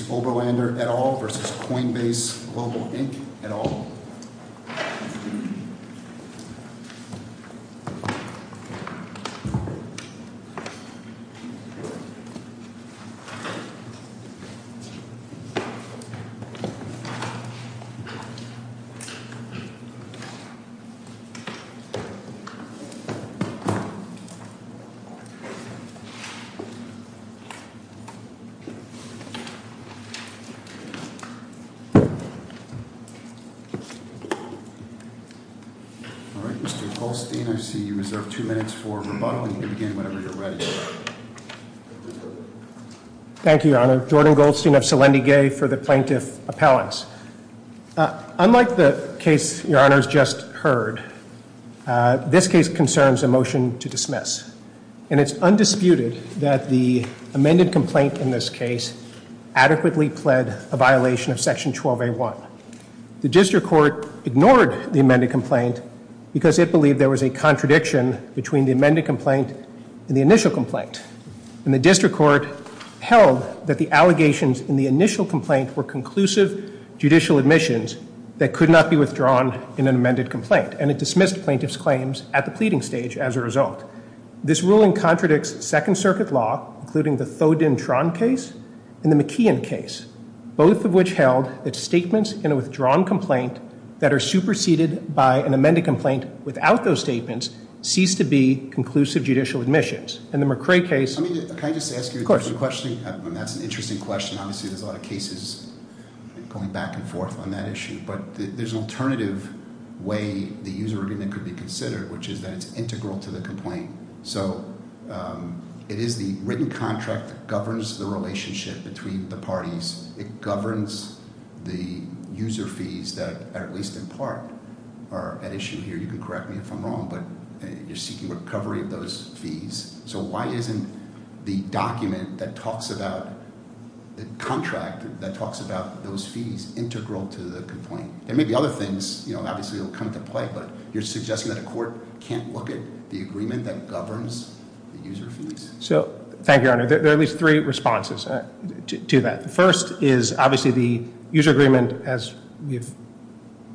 v. Oberlander et al. Mr. Goldstein, I see you reserved two minutes for rebuttal. You can begin whenever you're ready. Thank you, Your Honor. Jordan Goldstein of Selendigay for the Plaintiff Appellants. Unlike the case Your Honor has just heard, this case concerns a motion to dismiss. And it's undisputed that the amended complaint in this case adequately pled a violation of Section 12A1. The District Court ignored the amended complaint because it believed there was a contradiction between the amended complaint and the initial complaint. And the District Court held that the allegations in the initial complaint were conclusive judicial admissions that could not be withdrawn in an amended complaint. And it dismissed plaintiff's claims at the pleading stage as a result. This ruling contradicts Second Circuit law, including the Thodin-Tron case and the McKeon case. Both of which held that statements in a withdrawn complaint that are superseded by an amended complaint without those statements cease to be conclusive judicial admissions. In the McCrae case- Can I just ask you a question? Of course. That's an interesting question. Obviously there's a lot of cases going back and forth on that issue. But there's an alternative way the user agreement could be considered, which is that it's integral to the complaint. So it is the written contract that governs the relationship between the parties. It governs the user fees that, at least in part, are at issue here. You can correct me if I'm wrong, but you're seeking recovery of those fees. So why isn't the document that talks about the contract, that talks about those fees, integral to the complaint? There may be other things, obviously, that will come into play, but you're suggesting that a court can't look at the agreement that governs the user fees? Thank you, Your Honor. There are at least three responses to that. The first is, obviously, the user agreement, as we've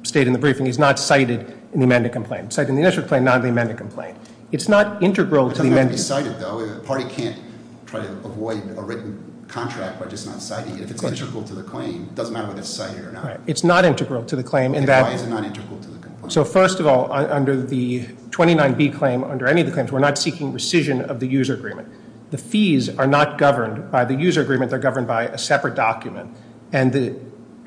stated in the briefing, is not cited in the amended complaint. Cited in the initial complaint, not in the amended complaint. It's not integral to the amended- It's not going to be cited, though. A party can't try to avoid a written contract by just not citing it. If it's integral to the claim, it doesn't matter whether it's cited or not. It's not integral to the claim in that- Why is it not integral to the complaint? So first of all, under the 29B claim, under any of the claims, we're not seeking rescission of the user agreement. The fees are not governed by the user agreement. They're governed by a separate document. And the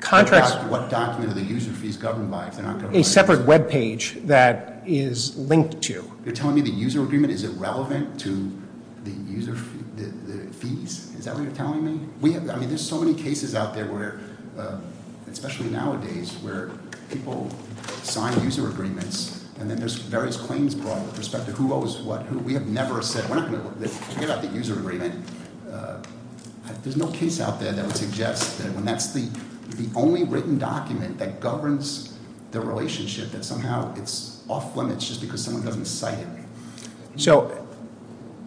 contracts- What document are the user fees governed by if they're not governed by the user agreement? A separate web page that is linked to. You're telling me the user agreement isn't relevant to the user fees? Is that what you're telling me? We have- I mean, there's so many cases out there where, especially nowadays, where people sign user agreements, and then there's various claims brought with respect to who owes what, who- We have never said- We're not going to- Forget about the user agreement. There's no case out there that would suggest that when that's the only written document that governs the relationship, that somehow it's off limits just because someone doesn't cite it. So,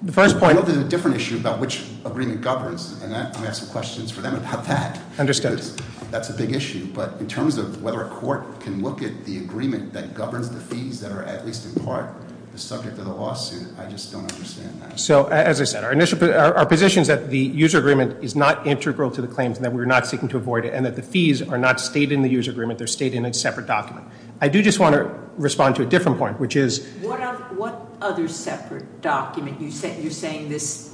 the first point- I know there's a different issue about which agreement governs, and I have some questions for them about that. Understood. Because that's a big issue, but in terms of whether a court can look at the agreement that governs the fees that are at least in part the subject of the lawsuit, I just don't understand that. So, as I said, our position is that the user agreement is not integral to the claims, and that we're not seeking to avoid it, and that the fees are not stated in the user agreement. They're stated in a separate document. I do just want to respond to a different point, which is- What other separate document? You're saying this-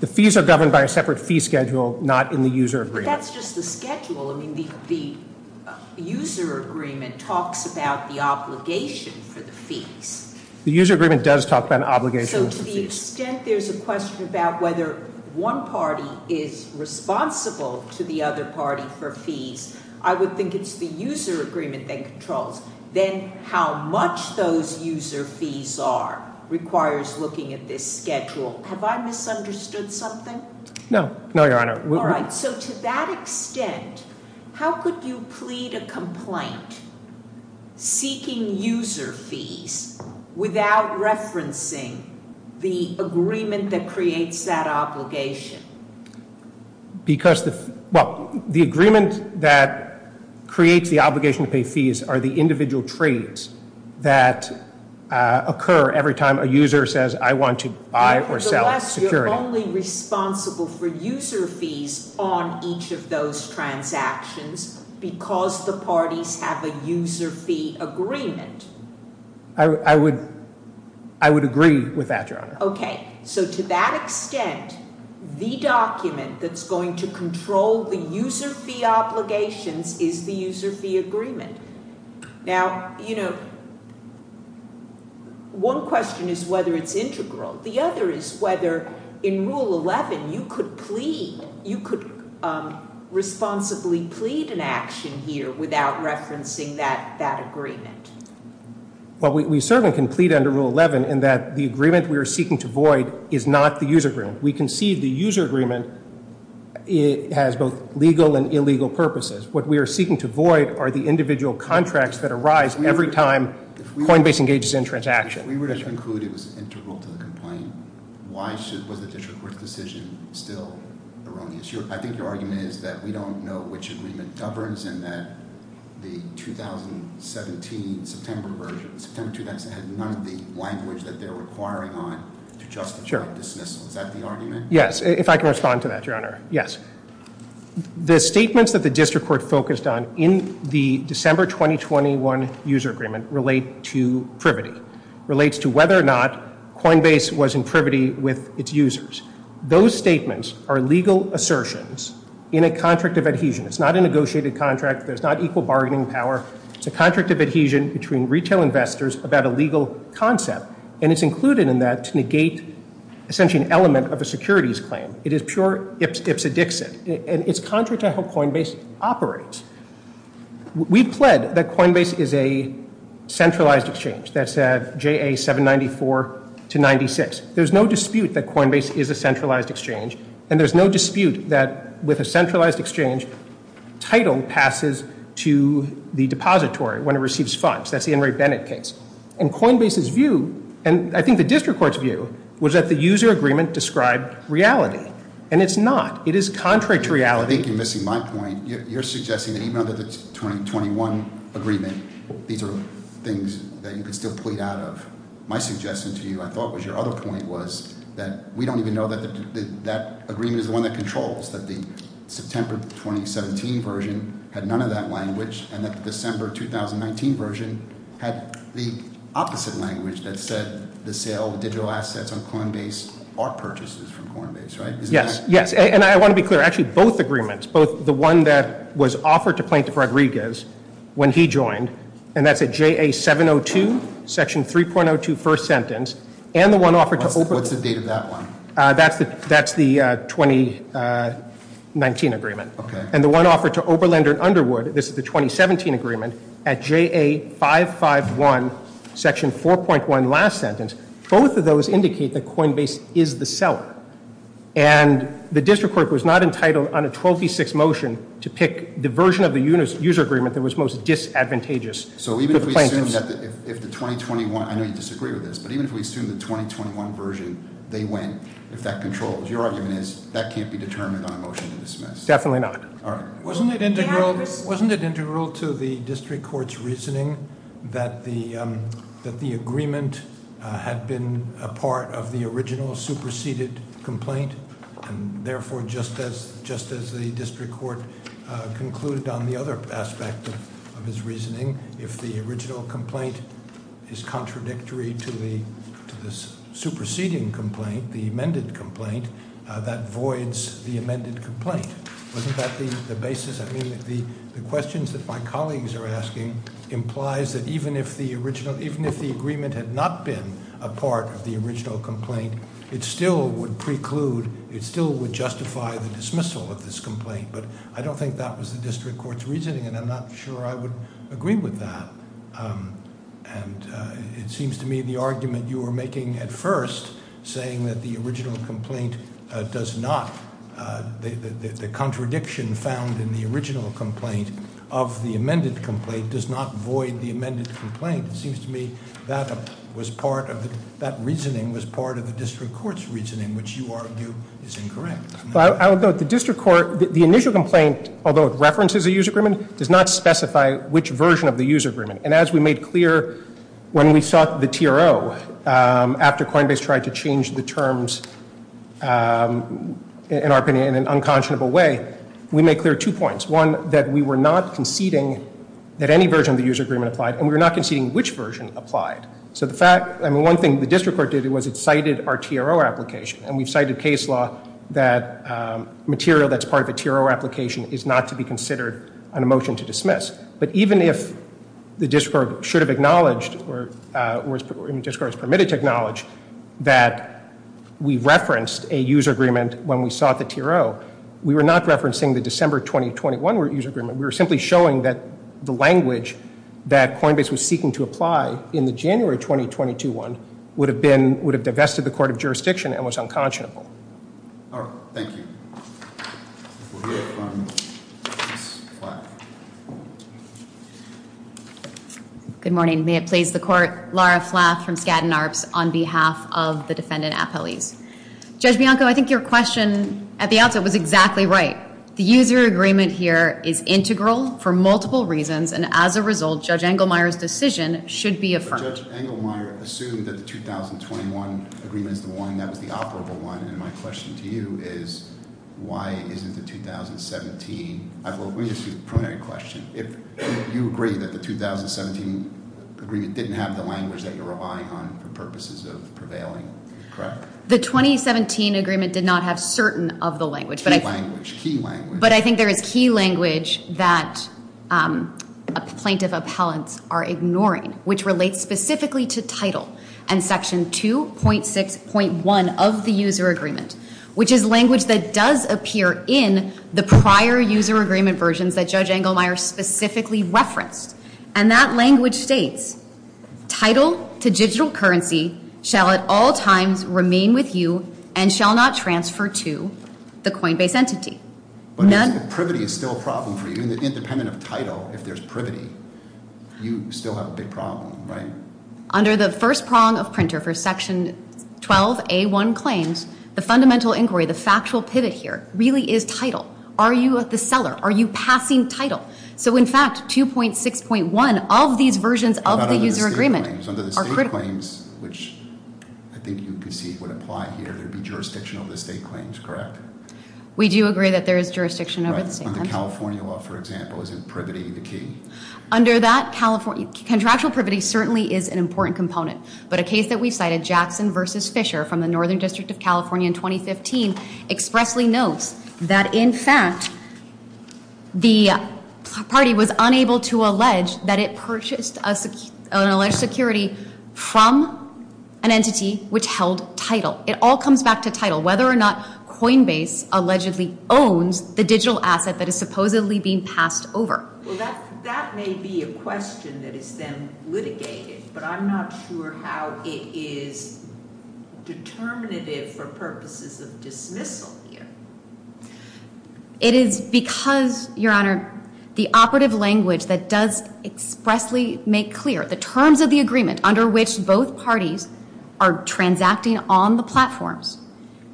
The fees are governed by a separate fee schedule, not in the user agreement. But that's just the schedule. I mean, the user agreement talks about the obligation for the fees. The user agreement does talk about an obligation for the fees. So, to the extent there's a question about whether one party is responsible to the other party for fees, I would think it's the user agreement that controls. Then how much those user fees are requires looking at this schedule. Have I misunderstood something? No. No, Your Honor. All right. So, to that extent, how could you plead a complaint seeking user fees without referencing the agreement that creates that obligation? Because the- Well, the agreement that creates the obligation to pay fees are the individual trades that occur every time a user says, I want to buy or sell security. Nevertheless, you're only responsible for user fees on each of those transactions because the parties have a user fee agreement. I would agree with that, Your Honor. Okay. So, to that extent, the document that's going to control the user fee obligations is the user fee agreement. Now, you know, one question is whether it's integral. The other is whether in Rule 11 you could plead, you could responsibly plead an action here without referencing that agreement. Well, we certainly can plead under Rule 11 in that the agreement we are seeking to void is not the user agreement. We concede the user agreement has both legal and illegal purposes. What we are seeking to void are the individual contracts that arise every time Coinbase engages in a transaction. If we were to conclude it was integral to the complaint, why was the district court's decision still erroneous? I think your argument is that we don't know which agreement governs and that the 2017 September version, September 2017 had none of the language that they're requiring on to justify dismissal. Is that the argument? Yes, if I can respond to that, Your Honor. Yes. The statements that the district court focused on in the December 2021 user agreement relate to privity. It relates to whether or not Coinbase was in privity with its users. Those statements are legal assertions in a contract of adhesion. It's not a negotiated contract. There's not equal bargaining power. It's a contract of adhesion between retail investors about a legal concept, and it's included in that to negate essentially an element of a securities claim. It is pure ipsa dixit, and it's contrary to how Coinbase operates. We pled that Coinbase is a centralized exchange. That's JA 794 to 96. There's no dispute that Coinbase is a centralized exchange, and there's no dispute that with a centralized exchange, title passes to the depository when it receives funds. That's the Henry Bennett case. And Coinbase's view, and I think the district court's view, was that the user agreement described reality, and it's not. It is contrary to reality. I think you're missing my point. You're suggesting that even under the 2021 agreement, these are things that you could still plead out of. My suggestion to you, I thought, was your other point was that we don't even know that that agreement is the one that controls, that the September 2017 version had none of that language, and that the December 2019 version had the opposite language that said the sale of digital assets on Coinbase are purchases from Coinbase, right? Yes, and I want to be clear. Actually, both agreements, both the one that was offered to Plaintiff Rodriguez when he joined, and that's at JA 702, section 3.02, first sentence, and the one offered to Oberlander. What's the date of that one? That's the 2019 agreement. Okay. And the one offered to Oberlander and Underwood, this is the 2017 agreement, at JA 551, section 4.1, last sentence, both of those indicate that Coinbase is the seller. And the district court was not entitled on a 12-6 motion to pick the version of the user agreement that was most disadvantageous to Plaintiffs. So even if we assume that if the 2021, I know you disagree with this, but even if we assume the 2021 version, they win if that controls. Your argument is that can't be determined on a motion to dismiss. Definitely not. All right. Wasn't it integral to the district court's reasoning that the agreement had been a part of the original superseded complaint and, therefore, just as the district court concluded on the other aspect of his reasoning, if the original complaint is contradictory to the superseding complaint, the amended complaint, that voids the amended complaint. Wasn't that the basis? I mean the questions that my colleagues are asking implies that even if the original, had not been a part of the original complaint, it still would preclude, it still would justify the dismissal of this complaint. But I don't think that was the district court's reasoning, and I'm not sure I would agree with that. And it seems to me the argument you were making at first, saying that the original complaint does not, the contradiction found in the original complaint of the amended complaint does not void the amended complaint. It seems to me that was part of, that reasoning was part of the district court's reasoning, which you argue is incorrect. I would note the district court, the initial complaint, although it references a use agreement, does not specify which version of the use agreement. And as we made clear when we sought the TRO after Coinbase tried to change the terms, in our opinion, in an unconscionable way, we made clear two points. One, that we were not conceding that any version of the use agreement applied, and we were not conceding which version applied. So the fact, I mean, one thing the district court did was it cited our TRO application, and we've cited case law that material that's part of a TRO application is not to be considered on a motion to dismiss. But even if the district court should have acknowledged, or the district court was permitted to acknowledge, that we referenced a use agreement when we sought the TRO, we were not referencing the December 2021 use agreement. We were simply showing that the language that Coinbase was seeking to apply in the January 2021 would have divested the court of jurisdiction and was unconscionable. All right. Thank you. We'll hear from Ms. Flath. Good morning. May it please the court. Laura Flath from Skadden Arps on behalf of the defendant, Apeliz. Judge Bianco, I think your question at the outset was exactly right. The user agreement here is integral for multiple reasons. And as a result, Judge Engelmeyer's decision should be affirmed. Judge Engelmeyer assumed that the 2021 agreement is the one that was the operable one. And my question to you is, why isn't the 2017? Apeliz, this is a primary question. If you agree that the 2017 agreement didn't have the language that you're relying on for purposes of prevailing, correct? The 2017 agreement did not have certain of the language. But I think there is key language that plaintiff appellants are ignoring, which relates specifically to title and section 2.6.1 of the user agreement, which is language that does appear in the prior user agreement versions that Judge Engelmeyer specifically referenced. And that language states, title to digital currency shall at all times remain with you and shall not transfer to the Coinbase entity. But if privity is still a problem for you, independent of title, if there's privity, you still have a big problem, right? Under the first prong of printer for section 12A1 claims, the fundamental inquiry, the factual pivot here really is title. Are you the seller? Are you passing title? So in fact, 2.6.1 of these versions of the user agreement are critical. Under the state claims, which I think you can see would apply here, there would be jurisdiction over the state claims, correct? We do agree that there is jurisdiction over the state claims. Right. On the California law, for example, isn't privity the key? Under that California, contractual privity certainly is an important component. But a case that we cited, Jackson v. Fisher from the Northern District of California in 2015, expressly notes that in fact, the party was unable to allege that it purchased an alleged security from an entity which held title. It all comes back to title. Whether or not Coinbase allegedly owns the digital asset that is supposedly being passed over. Well, that may be a question that is then litigated. But I'm not sure how it is determinative for purposes of dismissal here. It is because, Your Honor, the operative language that does expressly make clear the terms of the agreement under which both parties are transacting on the platforms.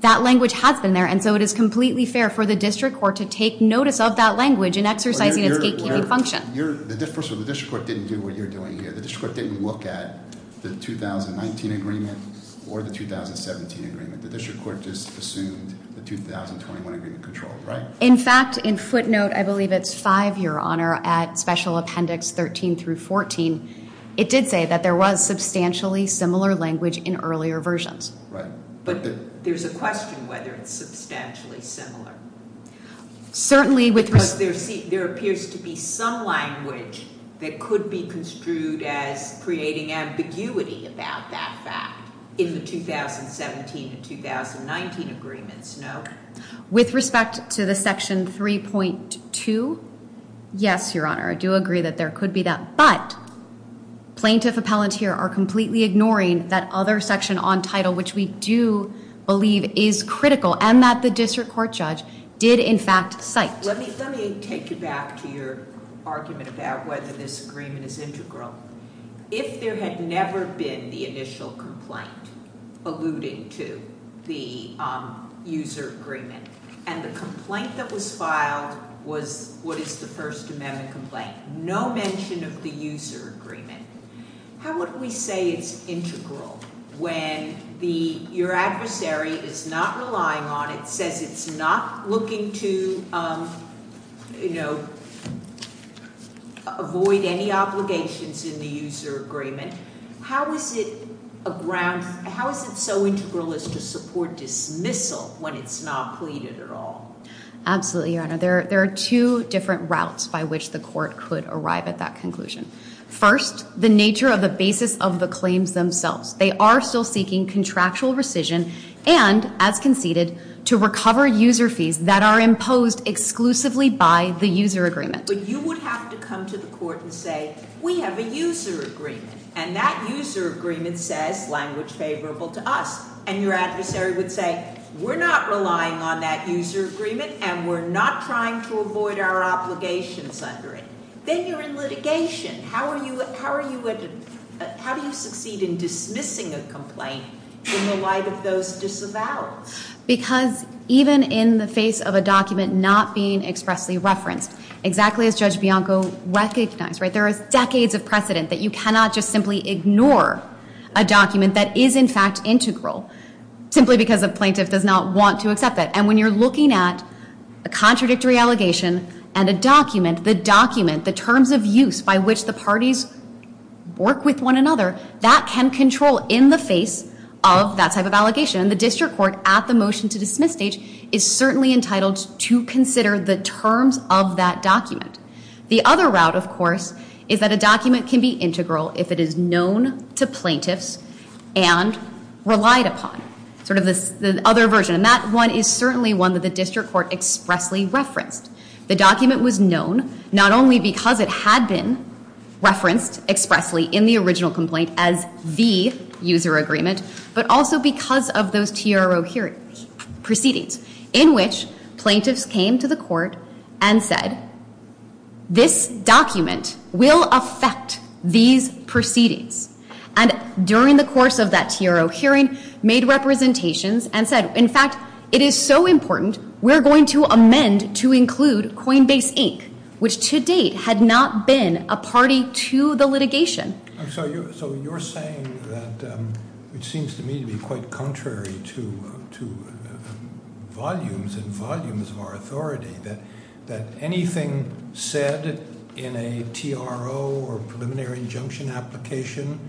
That language has been there, and so it is completely fair for the district court to take notice of that language in exercising its gatekeeping function. The difference is the district court didn't do what you're doing here. The district court didn't look at the 2019 agreement or the 2017 agreement. The district court just assumed the 2021 agreement control, right? In fact, in footnote, I believe it's 5, Your Honor, at Special Appendix 13 through 14, it did say that there was substantially similar language in earlier versions. Right. But there's a question whether it's substantially similar. Certainly with... Because there appears to be some language that could be construed as creating ambiguity about that fact in the 2017 and 2019 agreements, no? With respect to the Section 3.2, yes, Your Honor, I do agree that there could be that. But plaintiff appellants here are completely ignoring that other section on title, which we do believe is critical, and that the district court judge did, in fact, cite. Let me take you back to your argument about whether this agreement is integral. If there had never been the initial complaint alluding to the user agreement and the complaint that was filed was what is the First Amendment complaint, no mention of the user agreement, how would we say it's integral when your adversary is not relying on it, says it's not looking to avoid any obligations in the user agreement? How is it so integral as to support dismissal when it's not pleaded at all? Absolutely, Your Honor. There are two different routes by which the court could arrive at that conclusion. First, the nature of the basis of the claims themselves. They are still seeking contractual rescission and, as conceded, to recover user fees that are imposed exclusively by the user agreement. But you would have to come to the court and say, we have a user agreement, and that user agreement says language favorable to us. And your adversary would say, we're not relying on that user agreement, and we're not trying to avoid our obligations under it. Then you're in litigation. How do you succeed in dismissing a complaint in the light of those disavowals? Because even in the face of a document not being expressly referenced, exactly as Judge Bianco recognized, there is decades of precedent that you cannot just simply ignore a document that is, in fact, integral, simply because a plaintiff does not want to accept it. And when you're looking at a contradictory allegation and a document, the document, the terms of use by which the parties work with one another, that can control in the face of that type of allegation. And the district court, at the motion to dismiss stage, is certainly entitled to consider the terms of that document. The other route, of course, is that a document can be integral if it is known to plaintiffs and relied upon. Sort of the other version. And that one is certainly one that the district court expressly referenced. The document was known not only because it had been referenced expressly in the original complaint as the user agreement, but also because of those TRO hearings, proceedings, in which plaintiffs came to the court and said, this document will affect these proceedings. And during the course of that TRO hearing, made representations and said, in fact, it is so important, we're going to amend to include Coinbase Inc., which to date had not been a party to the litigation. So you're saying that it seems to me to be quite contrary to volumes and volumes of our authority that anything said in a TRO or preliminary injunction application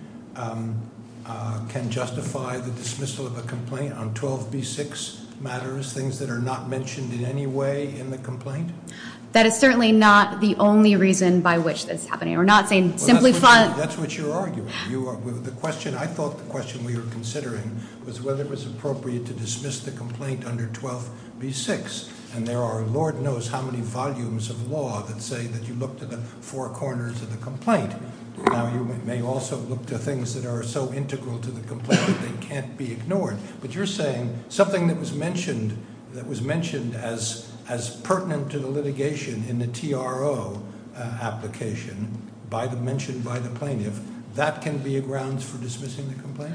can justify the dismissal of a complaint on 12B6 matters, things that are not mentioned in any way in the complaint? That is certainly not the only reason by which this is happening. You're not saying simply- That's what you're arguing. I thought the question we were considering was whether it was appropriate to dismiss the complaint under 12B6. And there are Lord knows how many volumes of law that say that you look to the four corners of the complaint. Now you may also look to things that are so integral to the complaint that they can't be ignored. But you're saying something that was mentioned as pertinent to the litigation in the TRO application mentioned by the plaintiff. That can be a grounds for dismissing the complaint?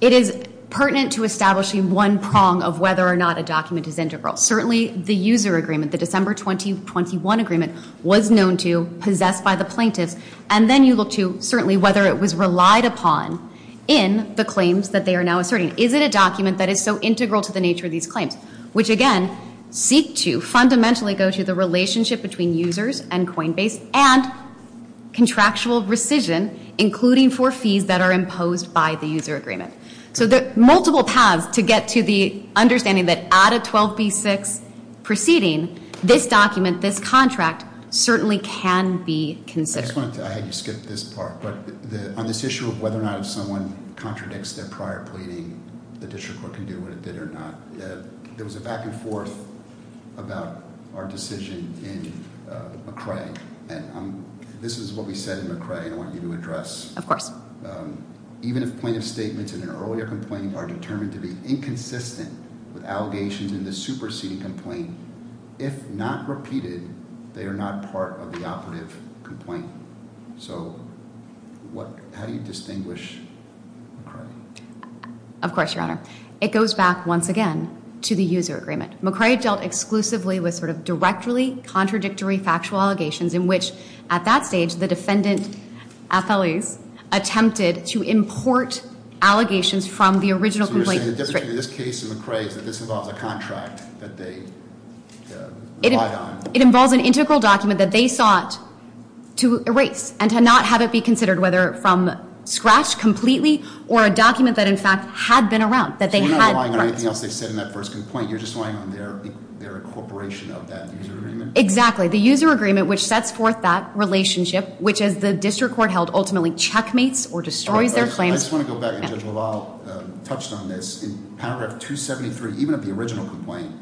It is pertinent to establishing one prong of whether or not a document is integral. Certainly the user agreement, the December 2021 agreement, was known to, possessed by the plaintiffs. And then you look to certainly whether it was relied upon in the claims that they are now asserting. Is it a document that is so integral to the nature of these claims? Which again, seek to fundamentally go to the relationship between users and Coinbase. And contractual rescission, including for fees that are imposed by the user agreement. So there are multiple paths to get to the understanding that out of 12B6 proceeding, this document, this contract, certainly can be considered. I had you skip this part, but on this issue of whether or not if someone contradicts their prior pleading, the district court can do what it did or not. There was a back and forth about our decision in McRae. And this is what we said in McRae and I want you to address. Of course. Even if plaintiff's statements in an earlier complaint are determined to be inconsistent with allegations in the superseding complaint, if not repeated, they are not part of the operative complaint. So how do you distinguish McRae? Of course, Your Honor. It goes back once again to the user agreement. McRae dealt exclusively with sort of directly contradictory factual allegations in which at that stage the defendant, at felonies, attempted to import allegations from the original complaint. So you're saying the difference between this case and McRae is that this involves a contract that they relied on. It involves an integral document that they sought to erase and to not have it be considered whether from scratch completely or a document that in fact had been around, that they had rights. So you're not relying on anything else they said in that first complaint. You're just relying on their incorporation of that user agreement? Exactly. The user agreement which sets forth that relationship, which as the district court held ultimately checkmates or destroys their claims. I just want to go back. Judge LaValle touched on this. In paragraph 273, even of the original complaint,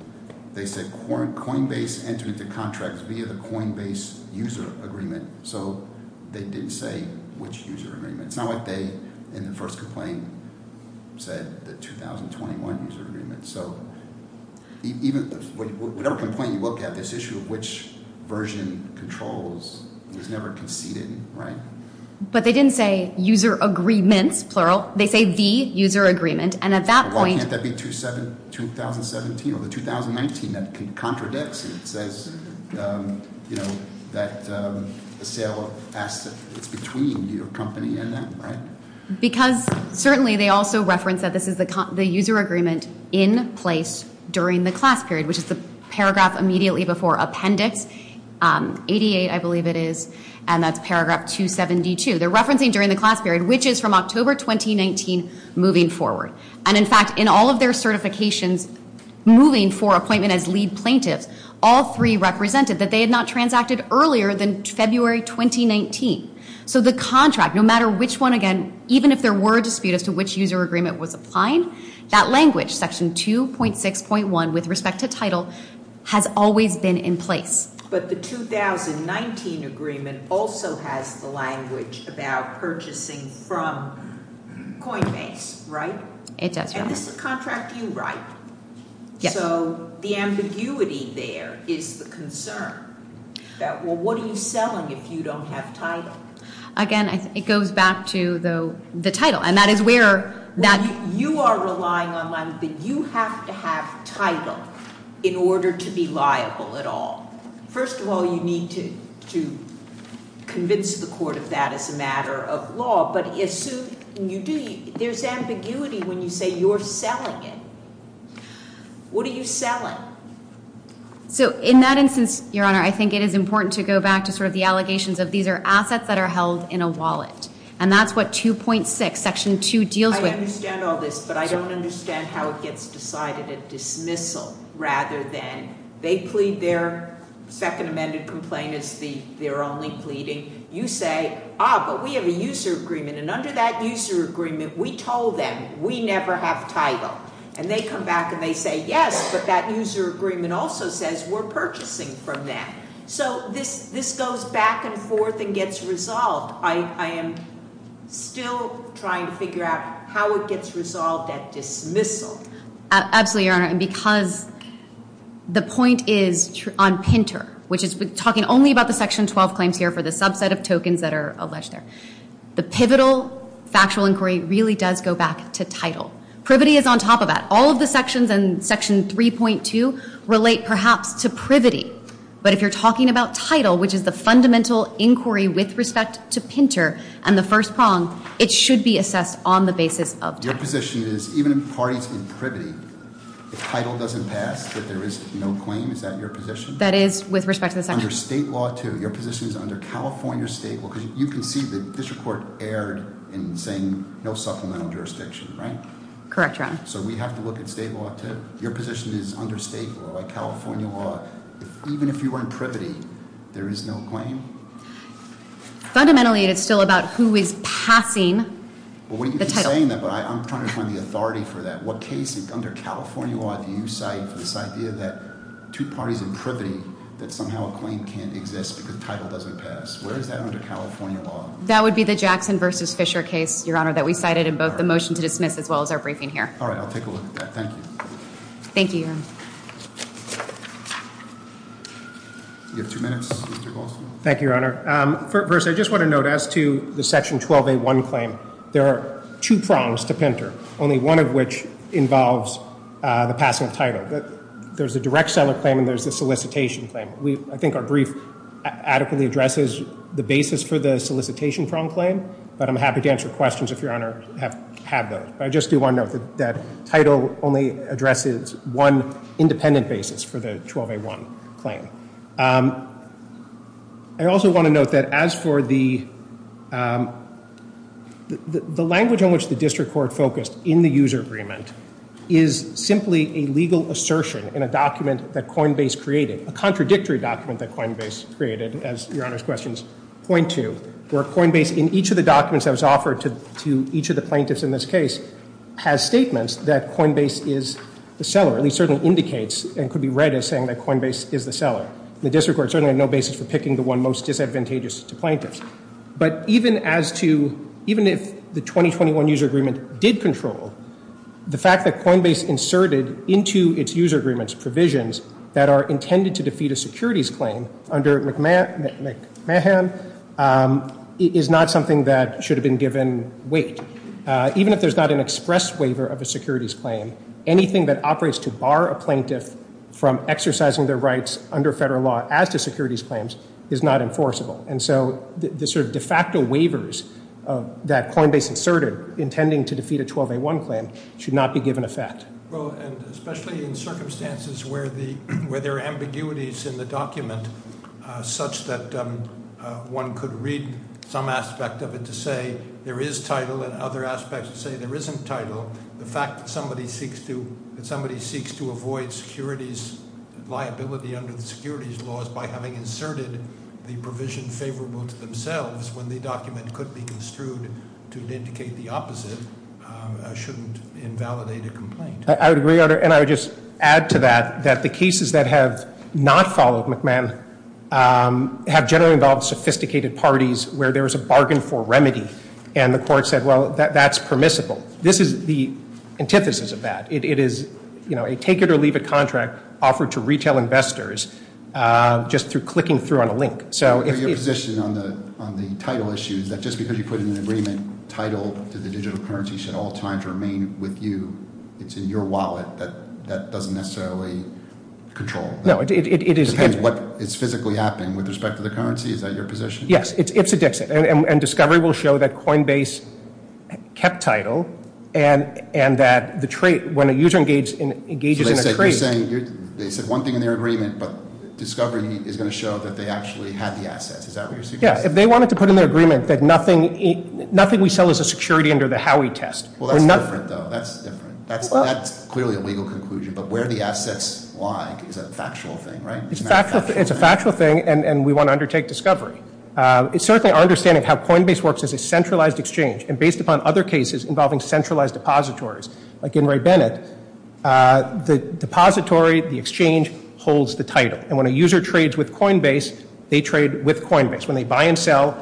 they said Coinbase entered into contracts via the Coinbase user agreement. So they didn't say which user agreement. It's not like they in the first complaint said the 2021 user agreement. So whatever complaint you look at, this issue of which version controls was never conceded, right? But they didn't say user agreements, plural. They say the user agreement. And at that point – Well, can't that be 2017 or the 2019? That contradicts it. It says that the sale of assets is between your company and them, right? Because certainly they also reference that this is the user agreement in place during the class period, which is the paragraph immediately before appendix 88, I believe it is, and that's paragraph 272. They're referencing during the class period, which is from October 2019 moving forward. And, in fact, in all of their certifications moving for appointment as lead plaintiffs, all three represented that they had not transacted earlier than February 2019. So the contract, no matter which one again, even if there were a dispute as to which user agreement was applying, that language, section 2.6.1 with respect to title, has always been in place. But the 2019 agreement also has the language about purchasing from Coinbase, right? It does. And this is a contract you write. Yes. So the ambiguity there is the concern that, well, what are you selling if you don't have title? Again, it goes back to the title, and that is where that – You are relying on them, but you have to have title in order to be liable at all. First of all, you need to convince the court of that as a matter of law, but there's ambiguity when you say you're selling it. What are you selling? So in that instance, Your Honor, I think it is important to go back to sort of the allegations of these are assets that are held in a wallet, and that's what 2.6, section 2, deals with. I understand all this, but I don't understand how it gets decided at dismissal rather than they plead their – second amended complaint is their only pleading. You say, ah, but we have a user agreement, and under that user agreement, we told them we never have title. And they come back and they say, yes, but that user agreement also says we're purchasing from them. So this goes back and forth and gets resolved. I am still trying to figure out how it gets resolved at dismissal. Absolutely, Your Honor, and because the point is on Pinter, which is talking only about the section 12 claims here for the subset of tokens that are alleged there. The pivotal factual inquiry really does go back to title. Privity is on top of that. All of the sections in section 3.2 relate perhaps to privity, but if you're talking about title, which is the fundamental inquiry with respect to Pinter and the first prong, it should be assessed on the basis of title. Your position is even in parties in privity, if title doesn't pass, that there is no claim? Is that your position? That is with respect to the section. Under state law, too. Your position is under California state law. Because you can see the district court erred in saying no supplemental jurisdiction, right? Correct, Your Honor. So we have to look at state law, too? Your position is under state law, like California law. Even if you were in privity, there is no claim? Fundamentally, it is still about who is passing the title. I'm trying to find the authority for that. What case under California law do you cite for this idea that two parties in privity, that somehow a claim can't exist because title doesn't pass? Where is that under California law? That would be the Jackson v. Fisher case, Your Honor, that we cited in both the motion to dismiss as well as our briefing here. All right. I'll take a look at that. Thank you. Thank you, Your Honor. You have two minutes, Mr. Goldstein. Thank you, Your Honor. First, I just want to note as to the section 12A1 claim, there are two prongs to Pinter, only one of which involves the passing of title. There's a direct seller claim and there's a solicitation claim. I think our brief adequately addresses the basis for the solicitation prong claim, but I'm happy to answer questions if Your Honor have those. I just do want to note that title only addresses one independent basis for the 12A1 claim. I also want to note that as for the language on which the district court focused in the user agreement is simply a legal assertion in a document that Coinbase created, a contradictory document that Coinbase created, as Your Honor's questions point to, where Coinbase in each of the documents that was offered to each of the plaintiffs in this case has statements that Coinbase is the seller, at least certainly indicates and could be read as saying that Coinbase is the seller. The district court certainly had no basis for picking the one most disadvantageous to plaintiffs. But even if the 2021 user agreement did control, the fact that Coinbase inserted into its user agreements provisions that are intended to defeat a securities claim under McMahon is not something that should have been given weight. Even if there's not an express waiver of a securities claim, anything that operates to bar a plaintiff from exercising their rights under federal law as to securities claims is not enforceable. And so the sort of de facto waivers that Coinbase inserted intending to defeat a 12A1 claim should not be given effect. Well, and especially in circumstances where there are ambiguities in the document, such that one could read some aspect of it to say there is title and other aspects to say there isn't title. The fact that somebody seeks to avoid securities liability under the securities laws by having inserted the provision favorable to themselves when the document could be construed to indicate the opposite shouldn't invalidate a complaint. I would agree, and I would just add to that that the cases that have not followed McMahon have generally involved sophisticated parties where there was a bargain for remedy. And the court said, well, that's permissible. This is the antithesis of that. It is a take-it-or-leave-it contract offered to retail investors just through clicking through on a link. Your position on the title issue is that just because you put in an agreement, title to the digital currency should at all times remain with you. It's in your wallet. That doesn't necessarily control what is physically happening with respect to the currency. Is that your position? Yes, it's a Dixit. And Discovery will show that Coinbase kept title and that when a user engages in a trade- They said one thing in their agreement, but Discovery is going to show that they actually had the assets. Is that what you're suggesting? Yes. If they wanted to put in their agreement that nothing we sell is a security under the Howey test- Well, that's different, though. That's different. That's clearly a legal conclusion, but where the assets lie is a factual thing, right? It's a factual thing, and we want to undertake Discovery. It's certainly our understanding of how Coinbase works as a centralized exchange, and based upon other cases involving centralized depositories, like in Ray Bennett, the depository, the exchange, holds the title. And when a user trades with Coinbase, they trade with Coinbase. When they buy and sell,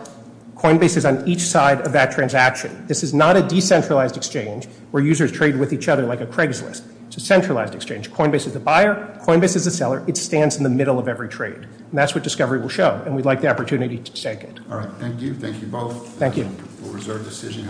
Coinbase is on each side of that transaction. This is not a decentralized exchange where users trade with each other like a Craigslist. It's a centralized exchange. Coinbase is the buyer. Coinbase is the seller. It stands in the middle of every trade, and that's what Discovery will show. And we'd like the opportunity to take it. All right. Thank you. Thank you both. Thank you. We'll reserve the decision.